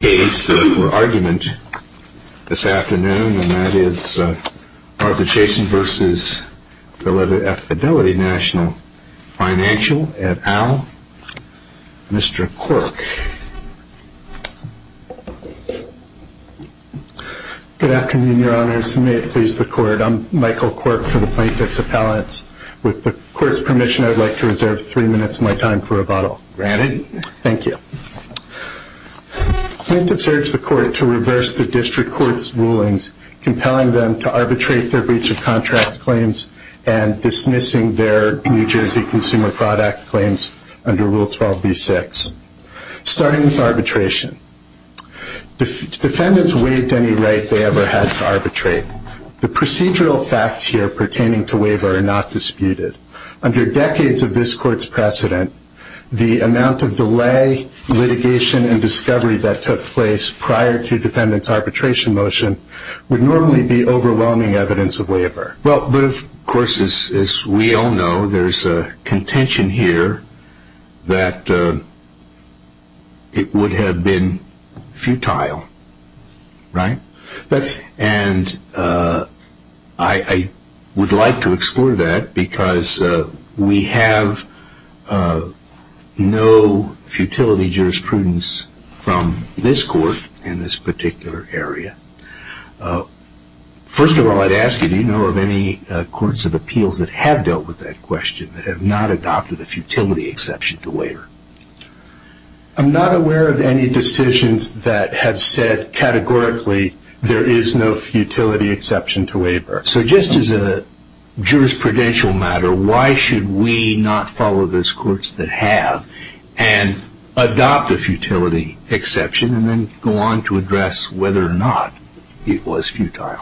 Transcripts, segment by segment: Financial, et al., Mr. Quirk. Good afternoon, Your Honors, and may it please the Court. I'm Michael Quirk for the Plaintiffs' Appellants. With the Court's permission, I'd like to urge the Court to reverse the District Court's rulings compelling them to arbitrate their breach of contract claims and dismissing their New Jersey Consumer Fraud Act claims under Rule 12b-6, starting with arbitration. Defendants waived any right they ever had to arbitrate. The procedural facts here pertaining to waiver are not disputed. Under decades of this Court's amount of delay, litigation, and discovery that took place prior to defendant's arbitration motion would normally be overwhelming evidence of waiver. Well, but of course, as we all know, there's a contention here that it would have been no futility jurisprudence from this Court in this particular area. First of all, I'd ask you, do you know of any Courts of Appeals that have dealt with that question, that have not adopted a futility exception to waiver? I'm not aware of any decisions that have said categorically there is no futility exception to waiver. So just as a jurisprudential matter, why should we not follow those Courts that have and adopt a futility exception and then go on to address whether or not it was futile?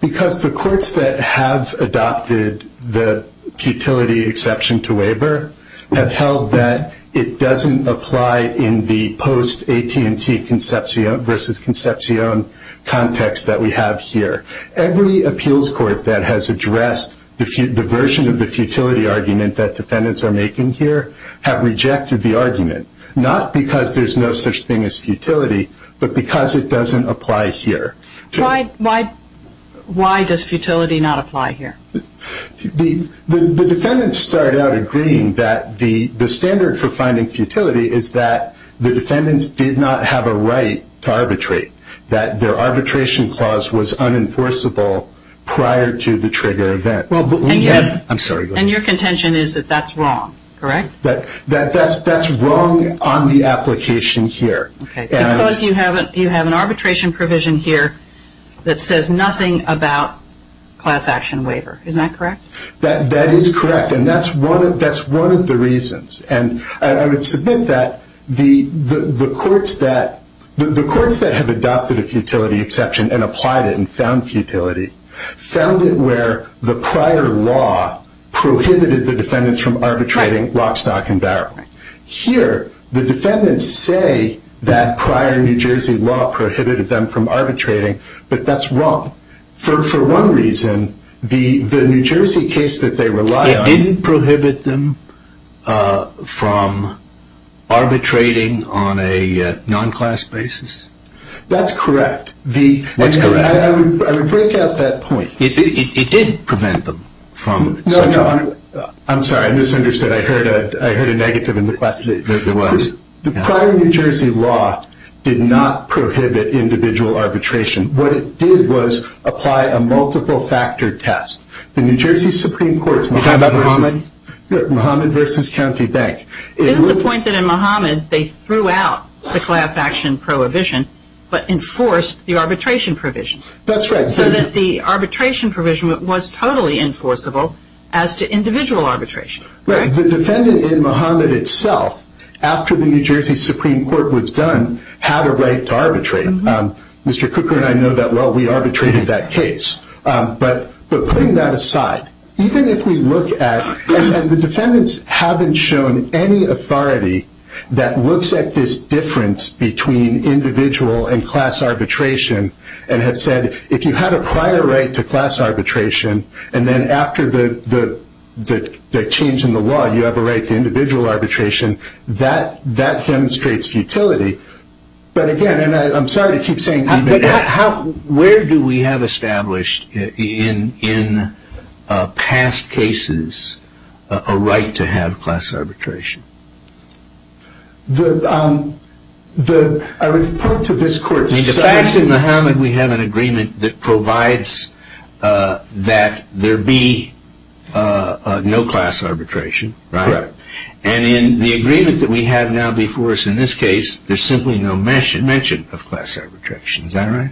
Because the Courts that have adopted the futility exception to waiver have held that it doesn't apply in the post AT&T versus Concepcion context that we have here. Every appeals court that has addressed the version of the futility argument that defendants are making here have rejected the argument, not because there's no such thing as futility, but because it doesn't apply here. Why does futility not apply here? The defendants started out agreeing that the standard for finding futility is that the defendants did not have a right to arbitrate, that their arbitration clause was unenforceable prior to the trigger event. And your contention is that that's wrong, correct? That's wrong on the application here. Because you have an arbitration provision here that says nothing about class action waiver, is that correct? That is correct, and that's one of the reasons. And I would submit that the Courts that have adopted a futility exception and applied it and found futility found it where the prior law prohibited the defendants from arbitrating lock, stock, and barrel. Here the defendants say that prior New Jersey law prohibited them from arbitrating, but that's wrong. For one reason, the New Jersey case that they relied on... It didn't prohibit them from arbitrating on a non-class basis? That's correct. What's correct? I would break out that point. It didn't prevent them from such a... No, no, I'm sorry, I misunderstood. I heard a negative in the question. The prior New Jersey law did not prohibit individual arbitration. What it did was apply a multiple factor test. The New Jersey Supreme Court's Muhammad v. County Bank... Isn't the point that in Muhammad they threw out the class action prohibition, but enforced the arbitration provision? That's right. So that the arbitration provision was totally enforceable as to individual arbitration, correct? The defendant in Muhammad itself, after the New Jersey Supreme Court was done, had a right to arbitrate. Mr. Cooker and I know that well, we arbitrated that case. But putting that aside, even if we look at... And the defendants haven't shown any authority that looks at this difference between individual and class arbitration, and have said, if you had a prior right to class arbitration, and then after the change in the law, you have a right to individual arbitration, that demonstrates futility. But again, and I'm sorry to keep saying... But how... Where do we have established in past cases a right to have class arbitration? The... I would point to this court's... In the facts in Muhammad, we have an agreement that provides that there be no class arbitration, correct? Correct. And in the agreement that we have now before us in this case, there's simply no mention of class arbitration. Is that right?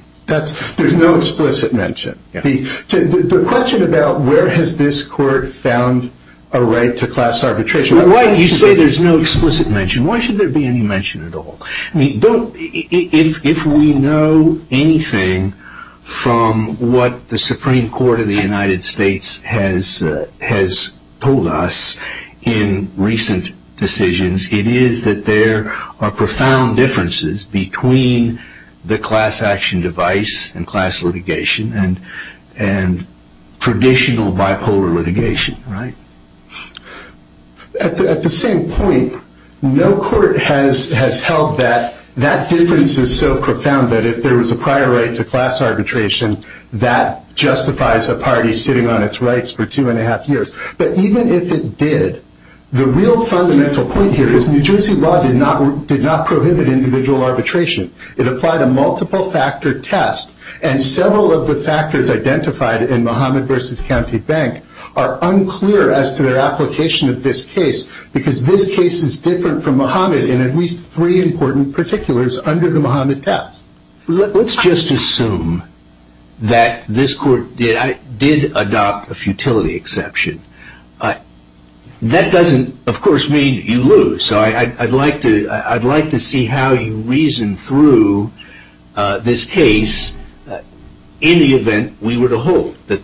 There's no explicit mention. The question about where has this court found a right to class arbitration... Why do you say there's no explicit mention? Why should there be any mention at all? I mean, don't... If we know anything from what the Supreme Court of the United States has told us in recent decisions, it is that there are profound differences between the class action device and class litigation, and traditional bipolar litigation, right? At the same point, no court has held that that difference is so profound that if there was a prior right to class arbitration, that justifies a party sitting on its rights for two and a half years. But even if it did, the real fundamental point here is New Jersey law did not prohibit individual arbitration. It applied a multiple factor test, and several of the factors identified in Muhammad v. County Bank are unclear as to their application of this case, because this case is different from Muhammad in at least three important particulars under the Muhammad test. Let's just assume that this court did adopt a futility exception. That doesn't, of course, mean you lose. So I'd like to see how you reason through this case in the event we were to hold that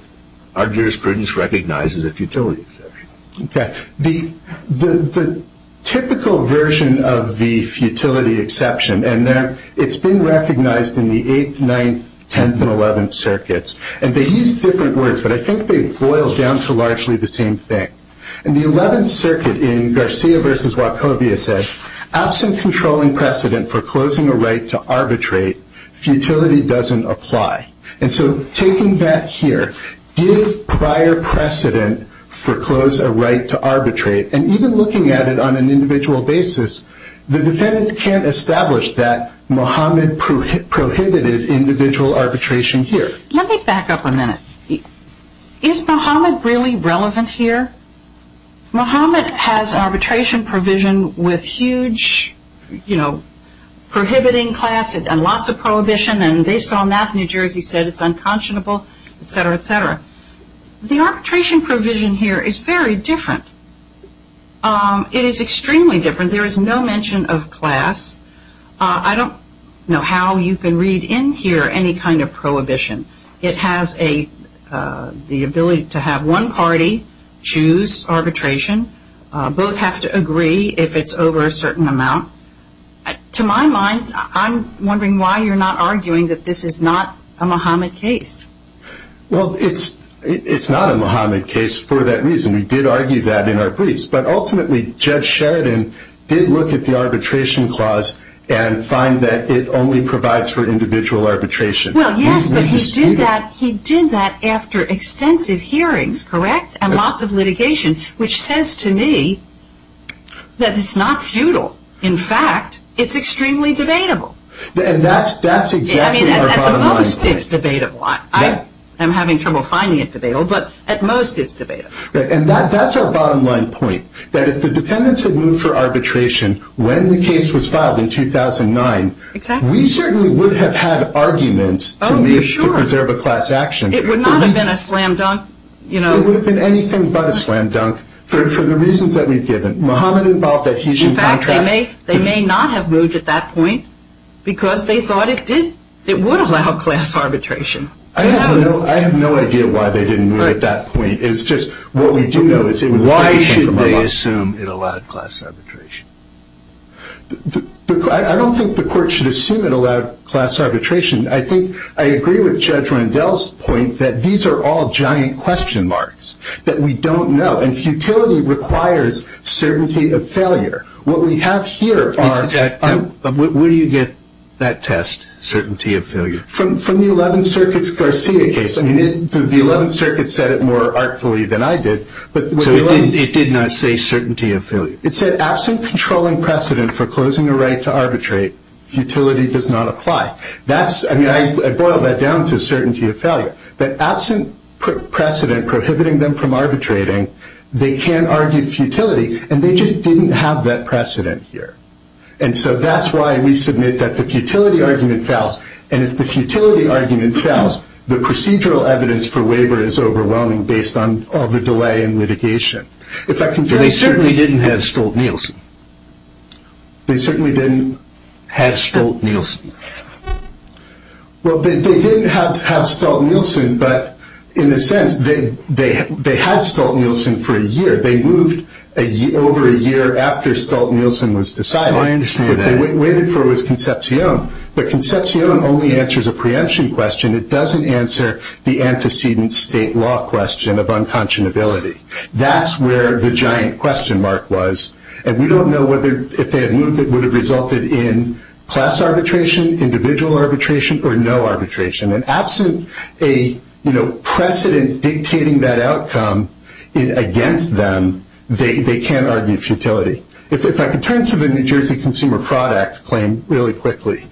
our jurisprudence recognizes a futility exception. The typical version of the futility exception, and it's been recognized in the 8th, 9th, 10th, and 11th circuits, and they use different words, but I think they boil down to largely the same thing. In the 11th circuit, in Garcia v. Wachovia, it said, absent controlling precedent for closing a right to arbitrate, futility doesn't apply. And so taking that here, did prior precedent foreclose a right to arbitrate? And even looking at it on an individual basis, the defendants can't establish that Muhammad prohibited individual arbitration here. Let me back up a minute. Is Muhammad really relevant here? Muhammad has arbitration provision with huge, you know, prohibiting class and lots of prohibition, and based on that New Testament, etc., etc. The arbitration provision here is very different. It is extremely different. There is no mention of class. I don't know how you can read in here any kind of prohibition. It has the ability to have one party choose arbitration. Both have to agree if it's over a certain amount. To my mind, I'm wondering why you're not arguing that this is not a Muhammad case. Well, it's not a Muhammad case for that reason. We did argue that in our briefs. But ultimately, Judge Sheridan did look at the arbitration clause and find that it only provides for individual arbitration. Well, yes, but he did that after extensive hearings, correct, and lots of litigation, which says to me that it's not futile. In fact, it's extremely debatable. And that's exactly our bottom line. At most, it's debatable. I'm having trouble finding it debatable, but at most, it's debatable. And that's our bottom line point, that if the defendants had moved for arbitration when the case was filed in 2009, we certainly would have had arguments to move to preserve a class action. It would not have been a slam dunk. It would have been anything but a slam dunk for the reasons that we've given. Muhammad involved that he's in contract. In fact, they may not have moved at that point because they thought it would allow class arbitration. I have no idea why they didn't move at that point. It's just what we do know is it was a case for Muhammad. Why should they assume it allowed class arbitration? I don't think the court should assume it allowed class arbitration. I think I agree with Judge Rendell's point that these are all giant question marks that we don't know. And futility requires certainty of failure. What we have here are – Where do you get that test, certainty of failure? From the 11th Circuit's Garcia case. I mean, the 11th Circuit said it more artfully than I did. So it did not say certainty of failure. It said, absent controlling precedent for closing a right to arbitrate, futility does not apply. I mean, I boil that down to certainty of failure. But absent precedent prohibiting them from arbitrating, they can argue futility. And they just didn't have that precedent here. And so that's why we submit that the futility argument fails. And if the futility argument fails, the procedural evidence for waiver is overwhelming based on all the delay and litigation. They certainly didn't have Stolt-Nielsen. They certainly didn't have Stolt-Nielsen. Well, they did have Stolt-Nielsen, but in a sense, they had Stolt-Nielsen for a year. They moved over a year after Stolt-Nielsen was decided. I understand that. What they waited for was Concepcion. But Concepcion only answers a preemption question. It doesn't answer the antecedent state law question of unconscionability. That's where the giant question mark was. And we don't know whether if they had moved it would have resulted in class arbitration, individual arbitration, or no arbitration. And absent a precedent dictating that outcome against them, they can't argue futility. If I could turn to the New Jersey Consumer Fraud Act claim really quickly.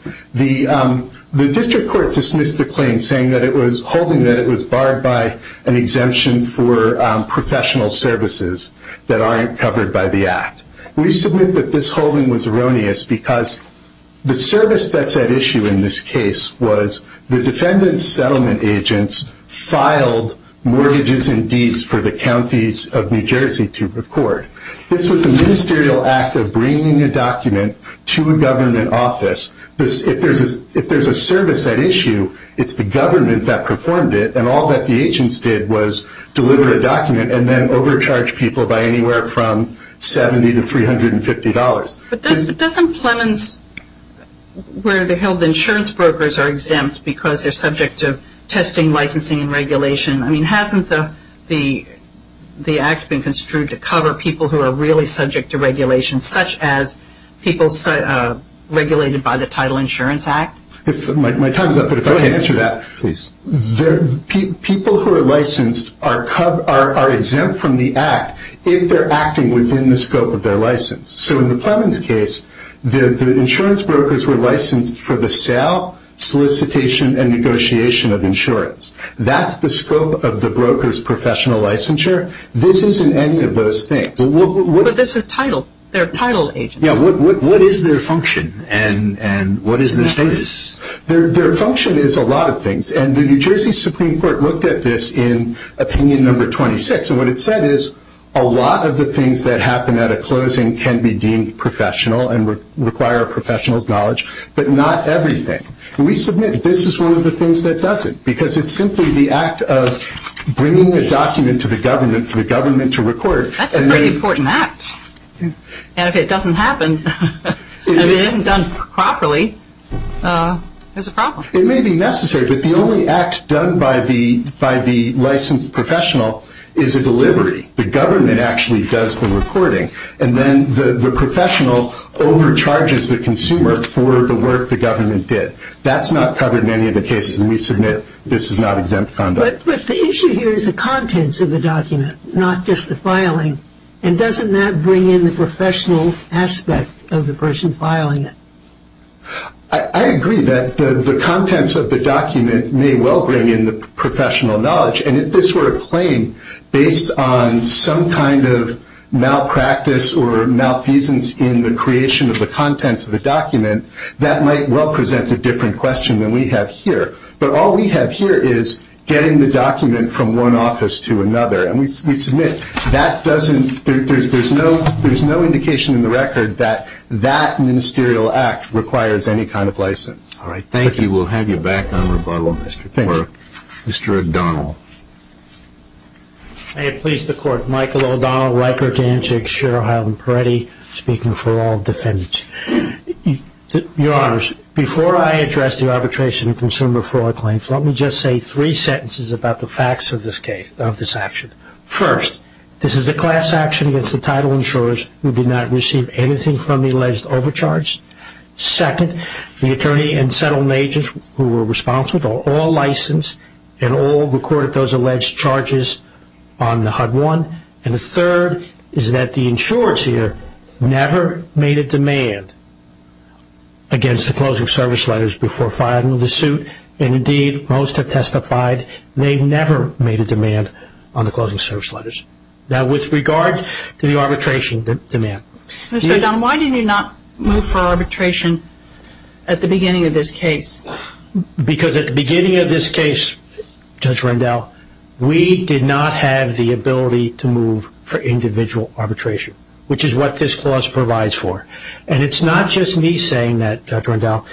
The district court dismissed the claim saying that it was holding that it was barred by an exemption for professional services that aren't covered by the act. We submit that this holding was the service that's at issue in this case was the defendant's settlement agents filed mortgages and deeds for the counties of New Jersey to record. This was a ministerial act of bringing a document to a government office. If there's a service at issue, it's the government that performed it, and all that the agents did was deliver a document and then overcharge people by anywhere from $70 to $350. But doesn't Plemons, where the health insurance brokers are exempt because they're subject to testing, licensing, and regulation. I mean, hasn't the act been construed to cover people who are really subject to regulation, such as people regulated by the Title Insurance Act? My time is up, but if I can answer that. People who are licensed are exempt from the act if they're acting within the scope of their license. So in the Plemons case, the insurance brokers were licensed for the sale, solicitation, and negotiation of insurance. That's the scope of the broker's professional licensure. This isn't any of those things. But this is Title. They're Title agents. What is their function, and what is their status? Their function is a lot of things, and the New Jersey Supreme Court looked at this in opinion number 26, and what it said is a lot of the things that happen at a closing can be deemed professional and require a professional's knowledge, but not everything. We submit this is one of the things that does it, because it's simply the act of bringing the document to the government for the government to record. That's a very important act, and if it doesn't happen, and if it isn't done properly, there's a problem. It may be necessary, but the only act done by the licensed professional is a delivery. The government actually does the recording, and then the professional overcharges the consumer for the work the government did. That's not covered in any of the cases, and we submit this is not exempt conduct. But the issue here is the contents of the document, not just the filing, and doesn't that bring in the professional aspect of the person filing it? I agree that the contents of the document may well bring in the professional knowledge, and if this were a claim based on some kind of malpractice or malfeasance in the creation of the contents of the document, that might well present a different question than we have here. But all we have here is getting the document from one office to another, and we submit it. That doesn't, there's no indication in the record that that ministerial act requires any kind of license. All right, thank you. We'll have you back on rebuttal, Mr. Clark. Mr. O'Donnell. May it please the Court, Michael O'Donnell, Riker, Danzig, Sher, Heil, and Peretti, speaking for all defendants. Your Honors, before I address the arbitration of consumer fraud claims, let me just say three sentences about the facts of this case, of this action. First, this is a class action against the title insurers who did not receive anything from the alleged overcharge. Second, the attorney and settlement agents who were responsible, all licensed, and all recorded those alleged charges on the HUD-1. And the third is that the insurers here never made a demand against the closing service letters before filing the suit, and indeed, most have testified they never made a demand on the closing service letters. Now, with regard to the arbitration demand. Mr. O'Donnell, why did you not move for arbitration at the beginning of this case? Because at the beginning of this case, Judge Rendell, we did not have the ability to move for individual arbitration, which is what this clause provides for. And it's not just me saying that, Judge Rendell.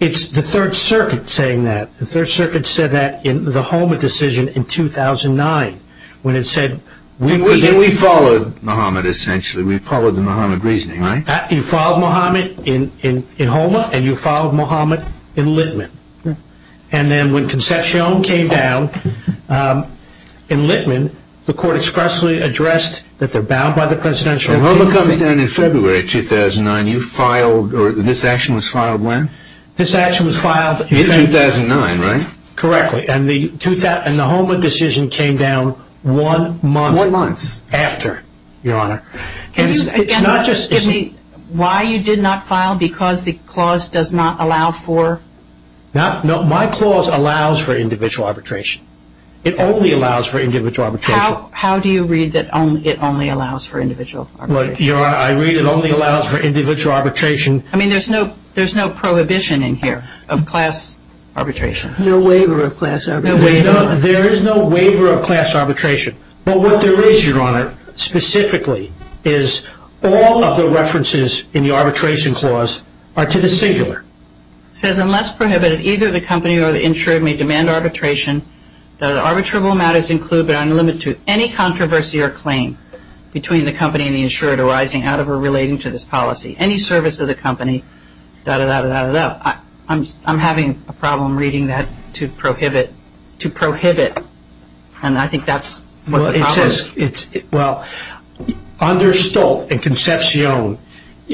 It's the Third Circuit saying that. The Third Circuit said that in the Homa decision in 2009, when it said, we did not... And we followed Mohamed, essentially. We followed the Mohamed reasoning, right? You followed Mohamed in Homa, and you followed Mohamed in Littman. And then when Concepcion came down in Littman, the court expressly addressed that they're bound by the presidential... When Homa comes down in February 2009, you filed, or this action was filed when? This action was filed... In 2009, right? Correctly. And the Homa decision came down one month after, Your Honor. And it's not just... Why you did not file? Because the clause does not allow for... No, my clause allows for individual arbitration. It only allows for individual arbitration. How do you read that it only allows for individual arbitration? Your Honor, I read it only allows for individual arbitration. I mean, there's no prohibition in here of class arbitration. No waiver of class arbitration. There is no waiver of class arbitration. But what there is, Your Honor, specifically, is all of the references in the arbitration clause are to the singular. It says, unless prohibited, either the company or the insurer may demand arbitration. The arbitrable matters include, but are not limited to, any controversy or claim between the company and the insurer arising out of or relating to this policy. Any service of the company, da-da-da-da-da-da. I'm having a problem reading that, to prohibit, to prohibit. And I think that's what the problem is. Well, it says, well, under Stolt and Concepcion,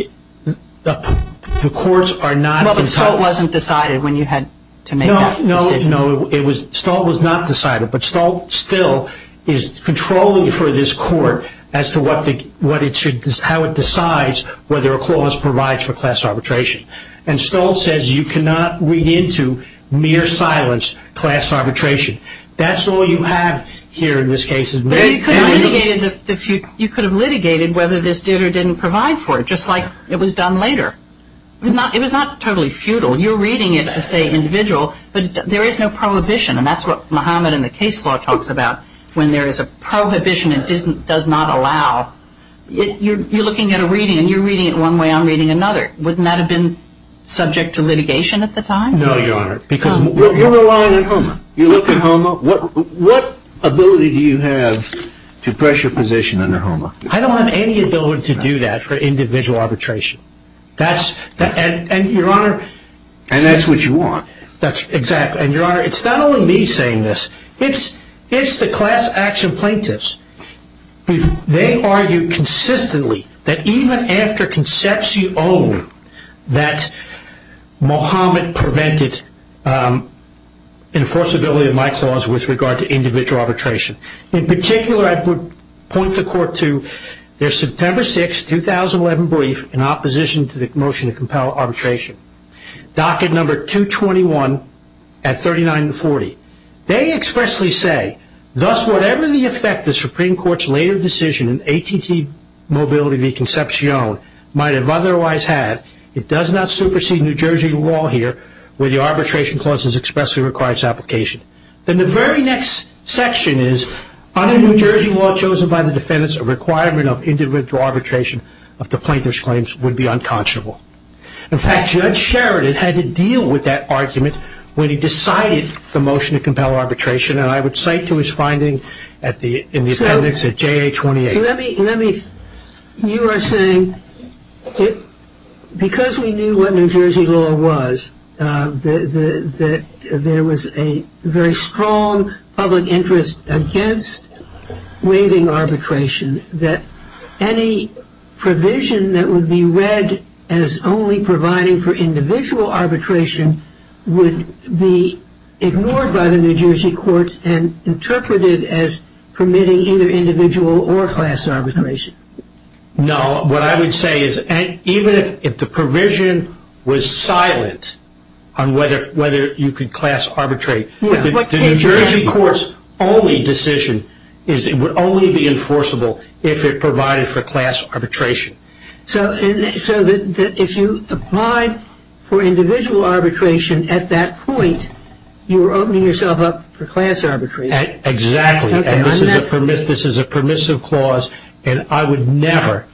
the courts are not entitled... Well, but Stolt wasn't decided when you had to make that decision. No, no. Stolt was not decided, but Stolt still is controlling for this court as to how it decides whether a clause provides for class arbitration. And Stolt says you cannot read into mere silence class arbitration. That's all you have here in this case. You could have litigated whether this did or didn't provide for it, just like it was done later. It was not totally futile. Well, you're reading it to say individual, but there is no prohibition, and that's what Mohammed in the case law talks about, when there is a prohibition it does not allow. You're looking at a reading, and you're reading it one way, I'm reading another. Wouldn't that have been subject to litigation at the time? No, Your Honor. Because... You're relying on HOMA. You look at HOMA. What ability do you have to pressure position under HOMA? I don't have any ability to do that for individual arbitration. And that's what you want. Exactly. And Your Honor, it's not only me saying this, it's the class action plaintiffs. They argue consistently that even after concepts you own, that Mohammed prevented enforceability of my clause with regard to individual arbitration. In particular, I would point the court to their September 6, 2011 brief in opposition to the motion to compel arbitration. Docket number 221 at 3940. They expressly say, thus whatever the effect the Supreme Court's later decision in AT&T mobility v. Concepcion might have otherwise had, it does not supersede New Jersey law here where the arbitration clause is expressly requires application. Then the very next section is, under New Jersey law chosen by the defendants, a requirement of individual arbitration of the plaintiff's claims would be unconscionable. In fact, Judge Sheridan had to deal with that argument when he decided the motion to compel arbitration. And I would cite to his finding in the appendix at JA 28. You are saying because we knew what New Jersey law was, there was a very strong public interest against waiving arbitration, that any provision that would be read as only providing for individual arbitration would be ignored by the New Jersey courts and interpreted as permitting either individual or class arbitration? No, what I would say is even if the provision was silent on whether you could class arbitrate, the New Jersey court's only decision is it would only be enforceable if it provided for class arbitration. So if you applied for individual arbitration at that point, you were opening yourself up for class arbitration? Exactly. And this is a permissive clause, and I would never,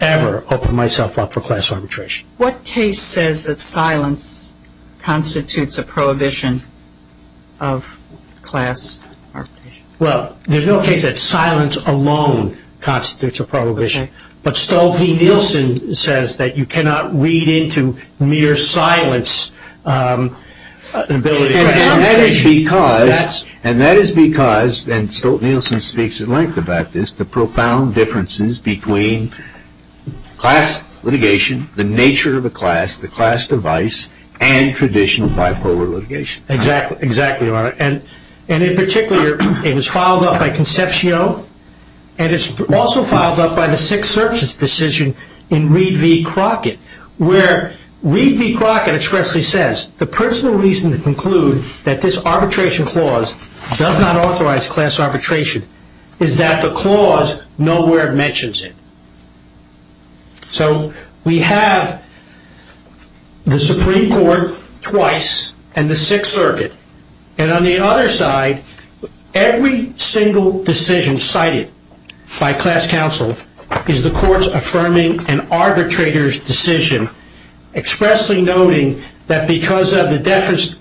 ever open myself up for class arbitration. What case says that silence constitutes a prohibition of class arbitration? Well, there's no case that silence alone constitutes a prohibition. But Stolfi Nielsen says that you cannot read into mere silence an ability to class arbitration. And that is because, and Stolfi Nielsen speaks at length about this, the profound differences between class litigation, the nature of a class, the class device, and traditional bipolar litigation. Exactly, exactly, Your Honor. And in particular, it was filed up by Concepcio, and it's also filed up by the Sixth Circuit's decision in Reed v. Crockett, where Reed v. Crockett expressly says, the personal reason to conclude that this arbitration clause does not authorize class arbitration is that the clause nowhere mentions it. So we have the Supreme Court twice and the Sixth Circuit. And on the other side, every single decision cited by class counsel is the court's affirming an arbitrator's decision, expressly noting that because of the deference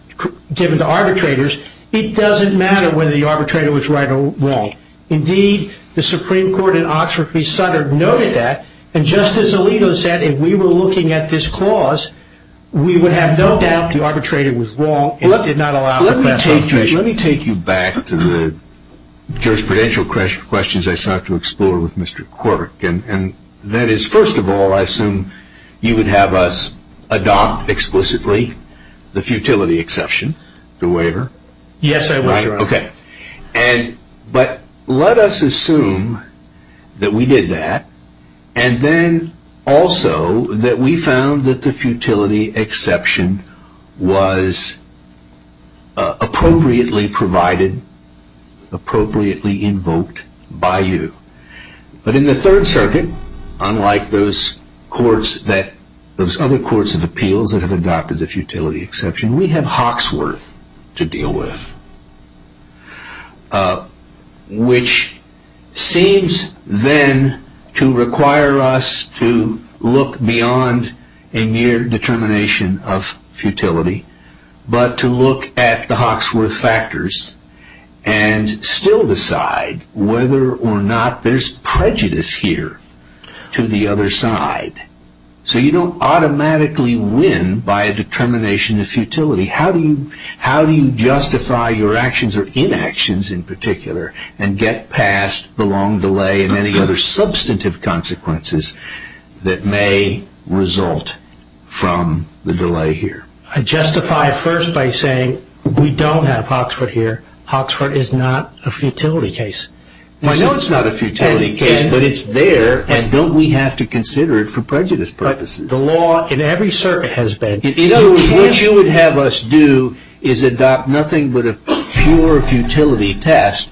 given to arbitrators, it doesn't matter whether the arbitrator was right or wrong. Indeed, the Supreme Court in Oxford v. Sutter noted that, and Justice Alito said if we were looking at this clause, we would have no doubt the arbitrator was wrong and did not allow for class arbitration. Let me take you back to the jurisprudential questions I sought to explore with Mr. Quirk. And that is, first of all, I assume you would have us adopt explicitly the futility exception, the waiver? Yes, I would, Your Honor. Okay. But let us assume that we did that, and then also that we found that the futility exception was appropriately provided, appropriately invoked by you. But in the Third Circuit, unlike those other courts of appeals that have adopted the futility exception, we have Hawksworth to deal with, which seems then to require us to look beyond a mere determination of futility, but to look at the Hawksworth factors and still decide whether or not there is prejudice here to the other side. So you do not automatically win by a determination of futility. How do you justify your actions or inactions in particular and get past the long delay and any other substantive consequences that may result from the delay here? I justify it first by saying we do not have Hawksworth here. Hawksworth is not a futility case. I know it's not a futility case, but it's there, and don't we have to consider it for prejudice purposes? The law in every circuit has been. In other words, what you would have us do is adopt nothing but a pure futility test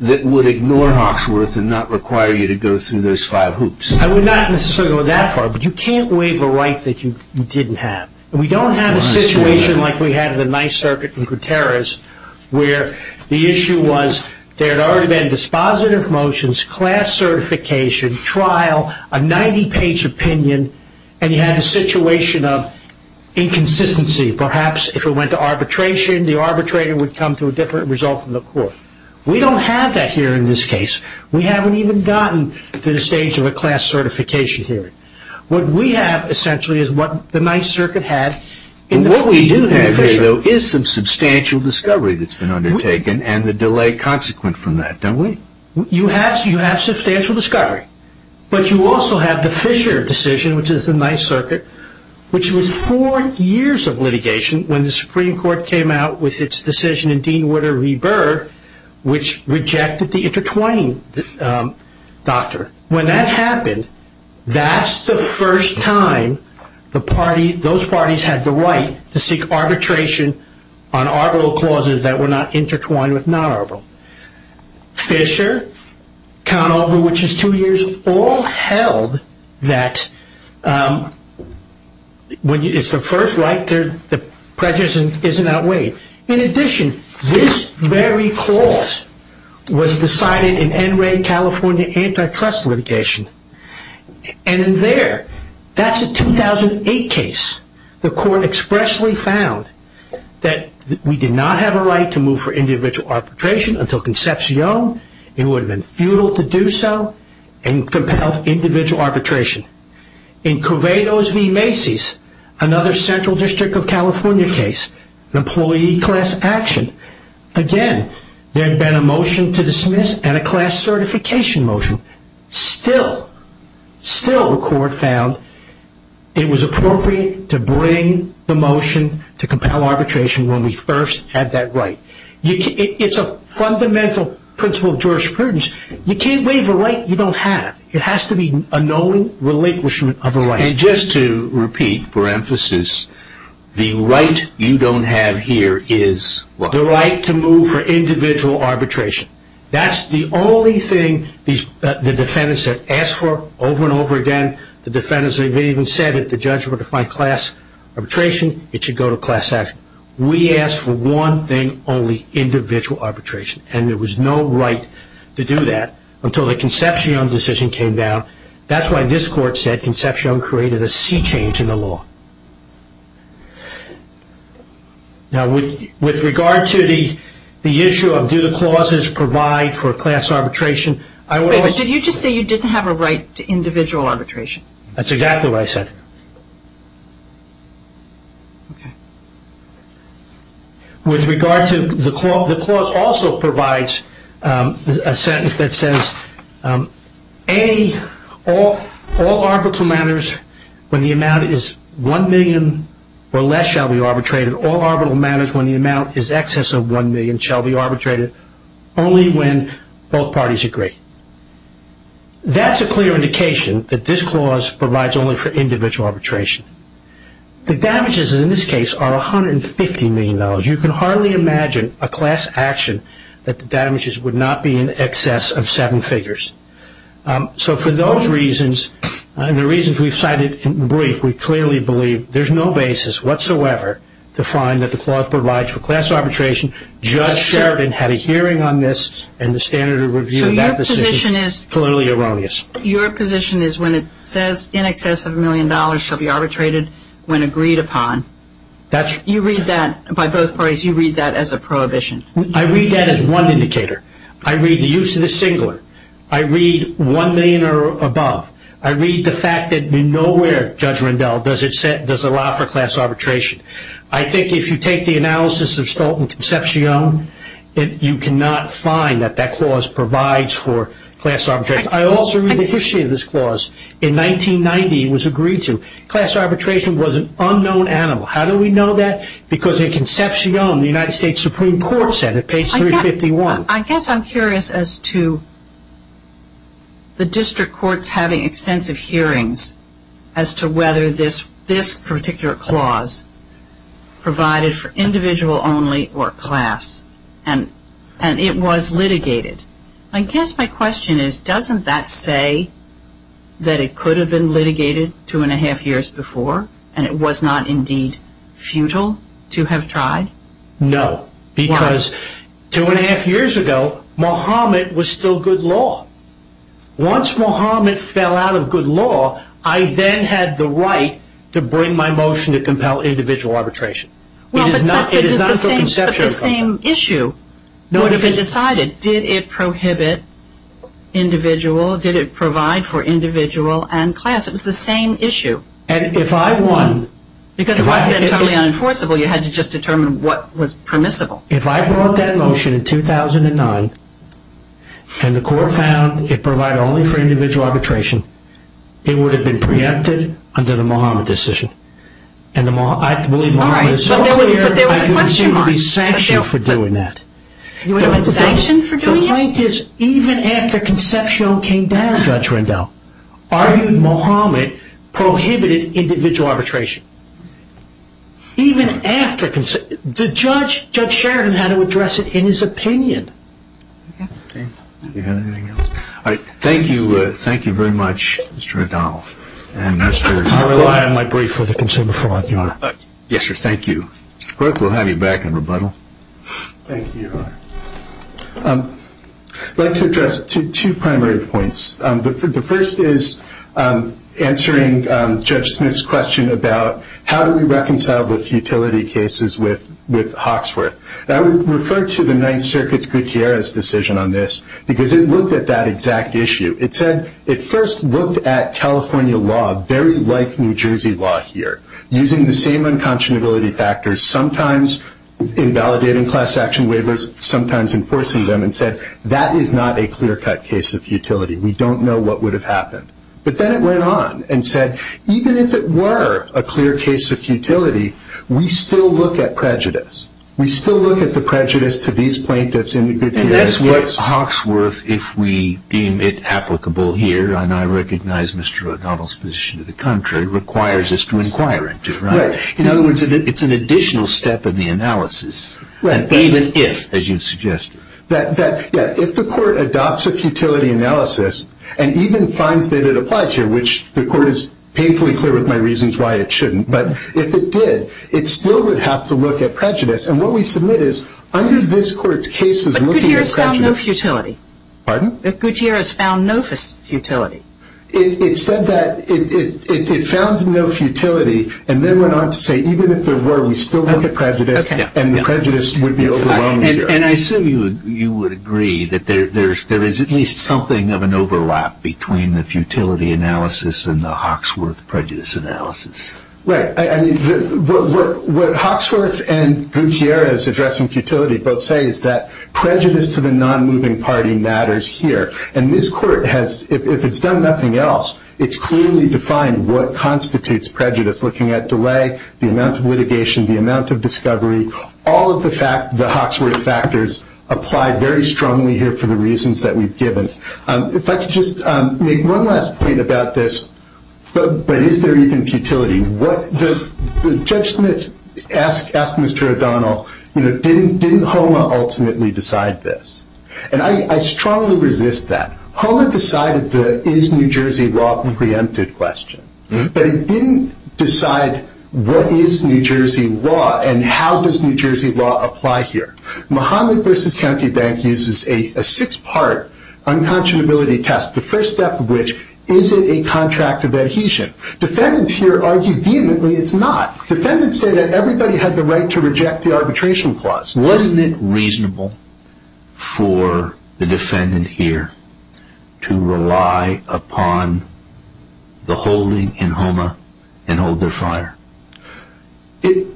that would ignore Hawksworth and not require you to go through those five hoops. I would not necessarily go that far, but you can't waive a right that you didn't have. We don't have a situation like we had in the Ninth Circuit in Gutierrez where the issue was there had already been dispositive motions, class certification, trial, a 90-page opinion, and you had a situation of inconsistency. Perhaps if it went to arbitration, the arbitrator would come to a different result from the court. We don't have that here in this case. We haven't even gotten to the stage of a class certification hearing. What we have essentially is what the Ninth Circuit had. What we do have here, though, is some substantial discovery that's been undertaken and the delay consequent from that, don't we? You have substantial discovery, but you also have the Fisher decision, which is the Ninth Circuit, which was four years of litigation when the Supreme Court came out with its decision in Dean Witter v. Burr which rejected the intertwining doctrine. When that happened, that's the first time those parties had the right to seek arbitration on arbitral clauses that were not intertwined with non-arbitral. Fisher, Conover, which is two years, all held that when it's the first right, the prejudice isn't outweighed. In addition, this very clause was decided in NRA California antitrust litigation. And in there, that's a 2008 case. The court expressly found that we did not have a right to move for individual arbitration until Concepcion. It would have been futile to do so and compelled individual arbitration. In Corvados v. Macy's, another Central District of California case, an employee class action, again, there had been a motion to dismiss and a class certification motion. Still, still the court found it was appropriate to bring the motion to compel arbitration when we first had that right. It's a fundamental principle of jurisprudence. You can't waive a right you don't have. It has to be a knowing relinquishment of a right. And just to repeat for emphasis, the right you don't have here is what? The right to move for individual arbitration. That's the only thing the defendants have asked for over and over again. The defendants have even said if the judge were to find class arbitration, it should go to class action. We asked for one thing only, individual arbitration. And there was no right to do that until the Concepcion decision came down. That's why this court said Concepcion created a sea change in the law. Now, with regard to the issue of do the clauses provide for class arbitration, I would always Did you just say you didn't have a right to individual arbitration? That's exactly what I said. Okay. With regard to the clause, the clause also provides a sentence that says, A, all arbitral matters when the amount is one million or less shall be arbitrated. All arbitral matters when the amount is excess of one million shall be arbitrated. Only when both parties agree. That's a clear indication that this clause provides only for individual arbitration. The damages in this case are $150 million. You can hardly imagine a class action that the damages would not be in excess of seven figures. So for those reasons, and the reasons we've cited in brief, we clearly believe there's no basis whatsoever to find that the clause provides for class arbitration. Judge Sheridan had a hearing on this, and the standard of review of that decision is clearly erroneous. Your position is when it says in excess of a million dollars shall be arbitrated when agreed upon, you read that, by both parties, you read that as a prohibition. I read that as one indicator. I read the use of the singular. I read one million or above. I read the fact that nowhere, Judge Rendell, does it allow for class arbitration. I think if you take the analysis of Stolten Concepcion, you cannot find that that clause provides for class arbitration. I also read the history of this clause. In 1990, it was agreed to. Class arbitration was an unknown animal. How do we know that? Because in Concepcion, the United States Supreme Court said it, page 351. I guess I'm curious as to the district courts having extensive hearings as to whether this particular clause provided for individual only or class, and it was litigated. I guess my question is doesn't that say that it could have been litigated two and a half years before and it was not indeed futile to have tried? No. Why? Because two and a half years ago, Mohammed was still good law. Once Mohammed fell out of good law, I then had the right to bring my motion to compel individual arbitration. But the same issue would have been decided. Did it prohibit individual? Did it provide for individual and class? It was the same issue. Because it wasn't entirely unenforceable. You had to just determine what was permissible. If I brought that motion in 2009 and the court found it provided only for individual arbitration, it would have been preempted under the Mohammed decision. I believe Mohammed is still here. But there was a question mark. I didn't seem to be sanctioned for doing that. You wouldn't have been sanctioned for doing it? The plaintiff, even after Concepcion came down, Judge Rendell, argued Mohammed prohibited individual arbitration. Even after Concepcion. The judge, Judge Sheridan, had to address it in his opinion. Thank you. Thank you very much, Mr. Rendell. I rely on my brief for the consumer fraud, Your Honor. Yes, sir. Thank you. Greg, we'll have you back in rebuttal. Thank you, Your Honor. I'd like to address two primary points. The first is answering Judge Smith's question about how do we reconcile the futility cases with Hawksworth. I would refer to the Ninth Circuit's Gutierrez decision on this because it looked at that exact issue. It said it first looked at California law very like New Jersey law here, using the same unconscionability factors, sometimes invalidating class action waivers, sometimes enforcing them, and said that is not a clear-cut case of futility. We don't know what would have happened. But then it went on and said even if it were a clear case of futility, we still look at prejudice. We still look at the prejudice to these plaintiffs in the Gutierrez case. And that's what Hawksworth, if we deem it applicable here, and I recognize Mr. O'Donnell's position to the contrary, requires us to inquire into. In other words, it's an additional step in the analysis, even if, as you suggested. If the Court adopts a futility analysis and even finds that it applies here, which the Court is painfully clear with my reasons why it shouldn't, but if it did, it still would have to look at prejudice. And what we submit is under this Court's cases looking at prejudice. But Gutierrez found no futility. Pardon? It said that it found no futility, and then went on to say even if there were, we still look at prejudice, and the prejudice would be overlooked. And I assume you would agree that there is at least something of an overlap between the futility analysis and the Hawksworth prejudice analysis. Right. What Hawksworth and Gutierrez addressing futility both say is that prejudice to the non-moving party matters here. And this Court has, if it's done nothing else, it's clearly defined what constitutes prejudice looking at delay, the amount of litigation, the amount of discovery, all of the Hawksworth factors apply very strongly here for the reasons that we've given. If I could just make one last point about this, but is there even futility? Judge Smith asked Mr. O'Donnell, didn't HOMA ultimately decide this? And I strongly resist that. HOMA decided the is New Jersey law preempted question, but it didn't decide what is New Jersey law and how does New Jersey law apply here. Mohammed v. County Bank uses a six-part unconscionability test, the first step of which, is it a contract of adhesion? Defendants here argue vehemently it's not. Defendants say that everybody had the right to reject the arbitration clause. Wasn't it reasonable for the defendant here to rely upon the holding in HOMA and hold their fire?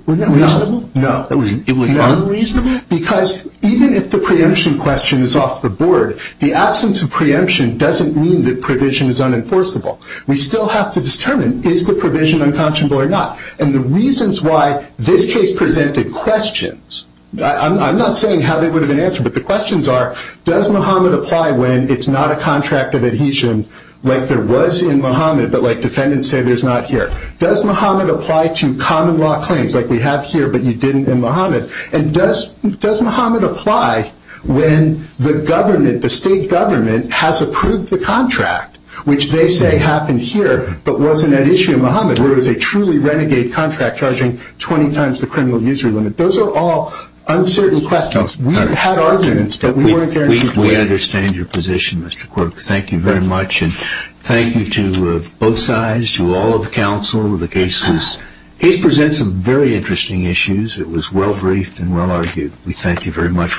Wasn't that reasonable? No. It was unreasonable? Because even if the preemption question is off the board, the absence of preemption doesn't mean that provision is unenforceable. We still have to determine is the provision unconscionable or not? And the reasons why this case presented questions, I'm not saying how they would have been answered, but the questions are does Mohammed apply when it's not a contract of adhesion, like there was in Mohammed, but like defendants say there's not here. Does Mohammed apply to common law claims like we have here, but you didn't in Mohammed? And does Mohammed apply when the government, the state government, has approved the contract, which they say happened here, but wasn't at issue in Mohammed, where it was a truly renegade contract charging 20 times the criminal user limit? Those are all uncertain questions. We've had arguments, but we weren't there in any way. We understand your position, Mr. Quirk. Thank you very much, and thank you to both sides, to all of the counsel. The case presents some very interesting issues. It was well briefed and well argued. We thank you very much.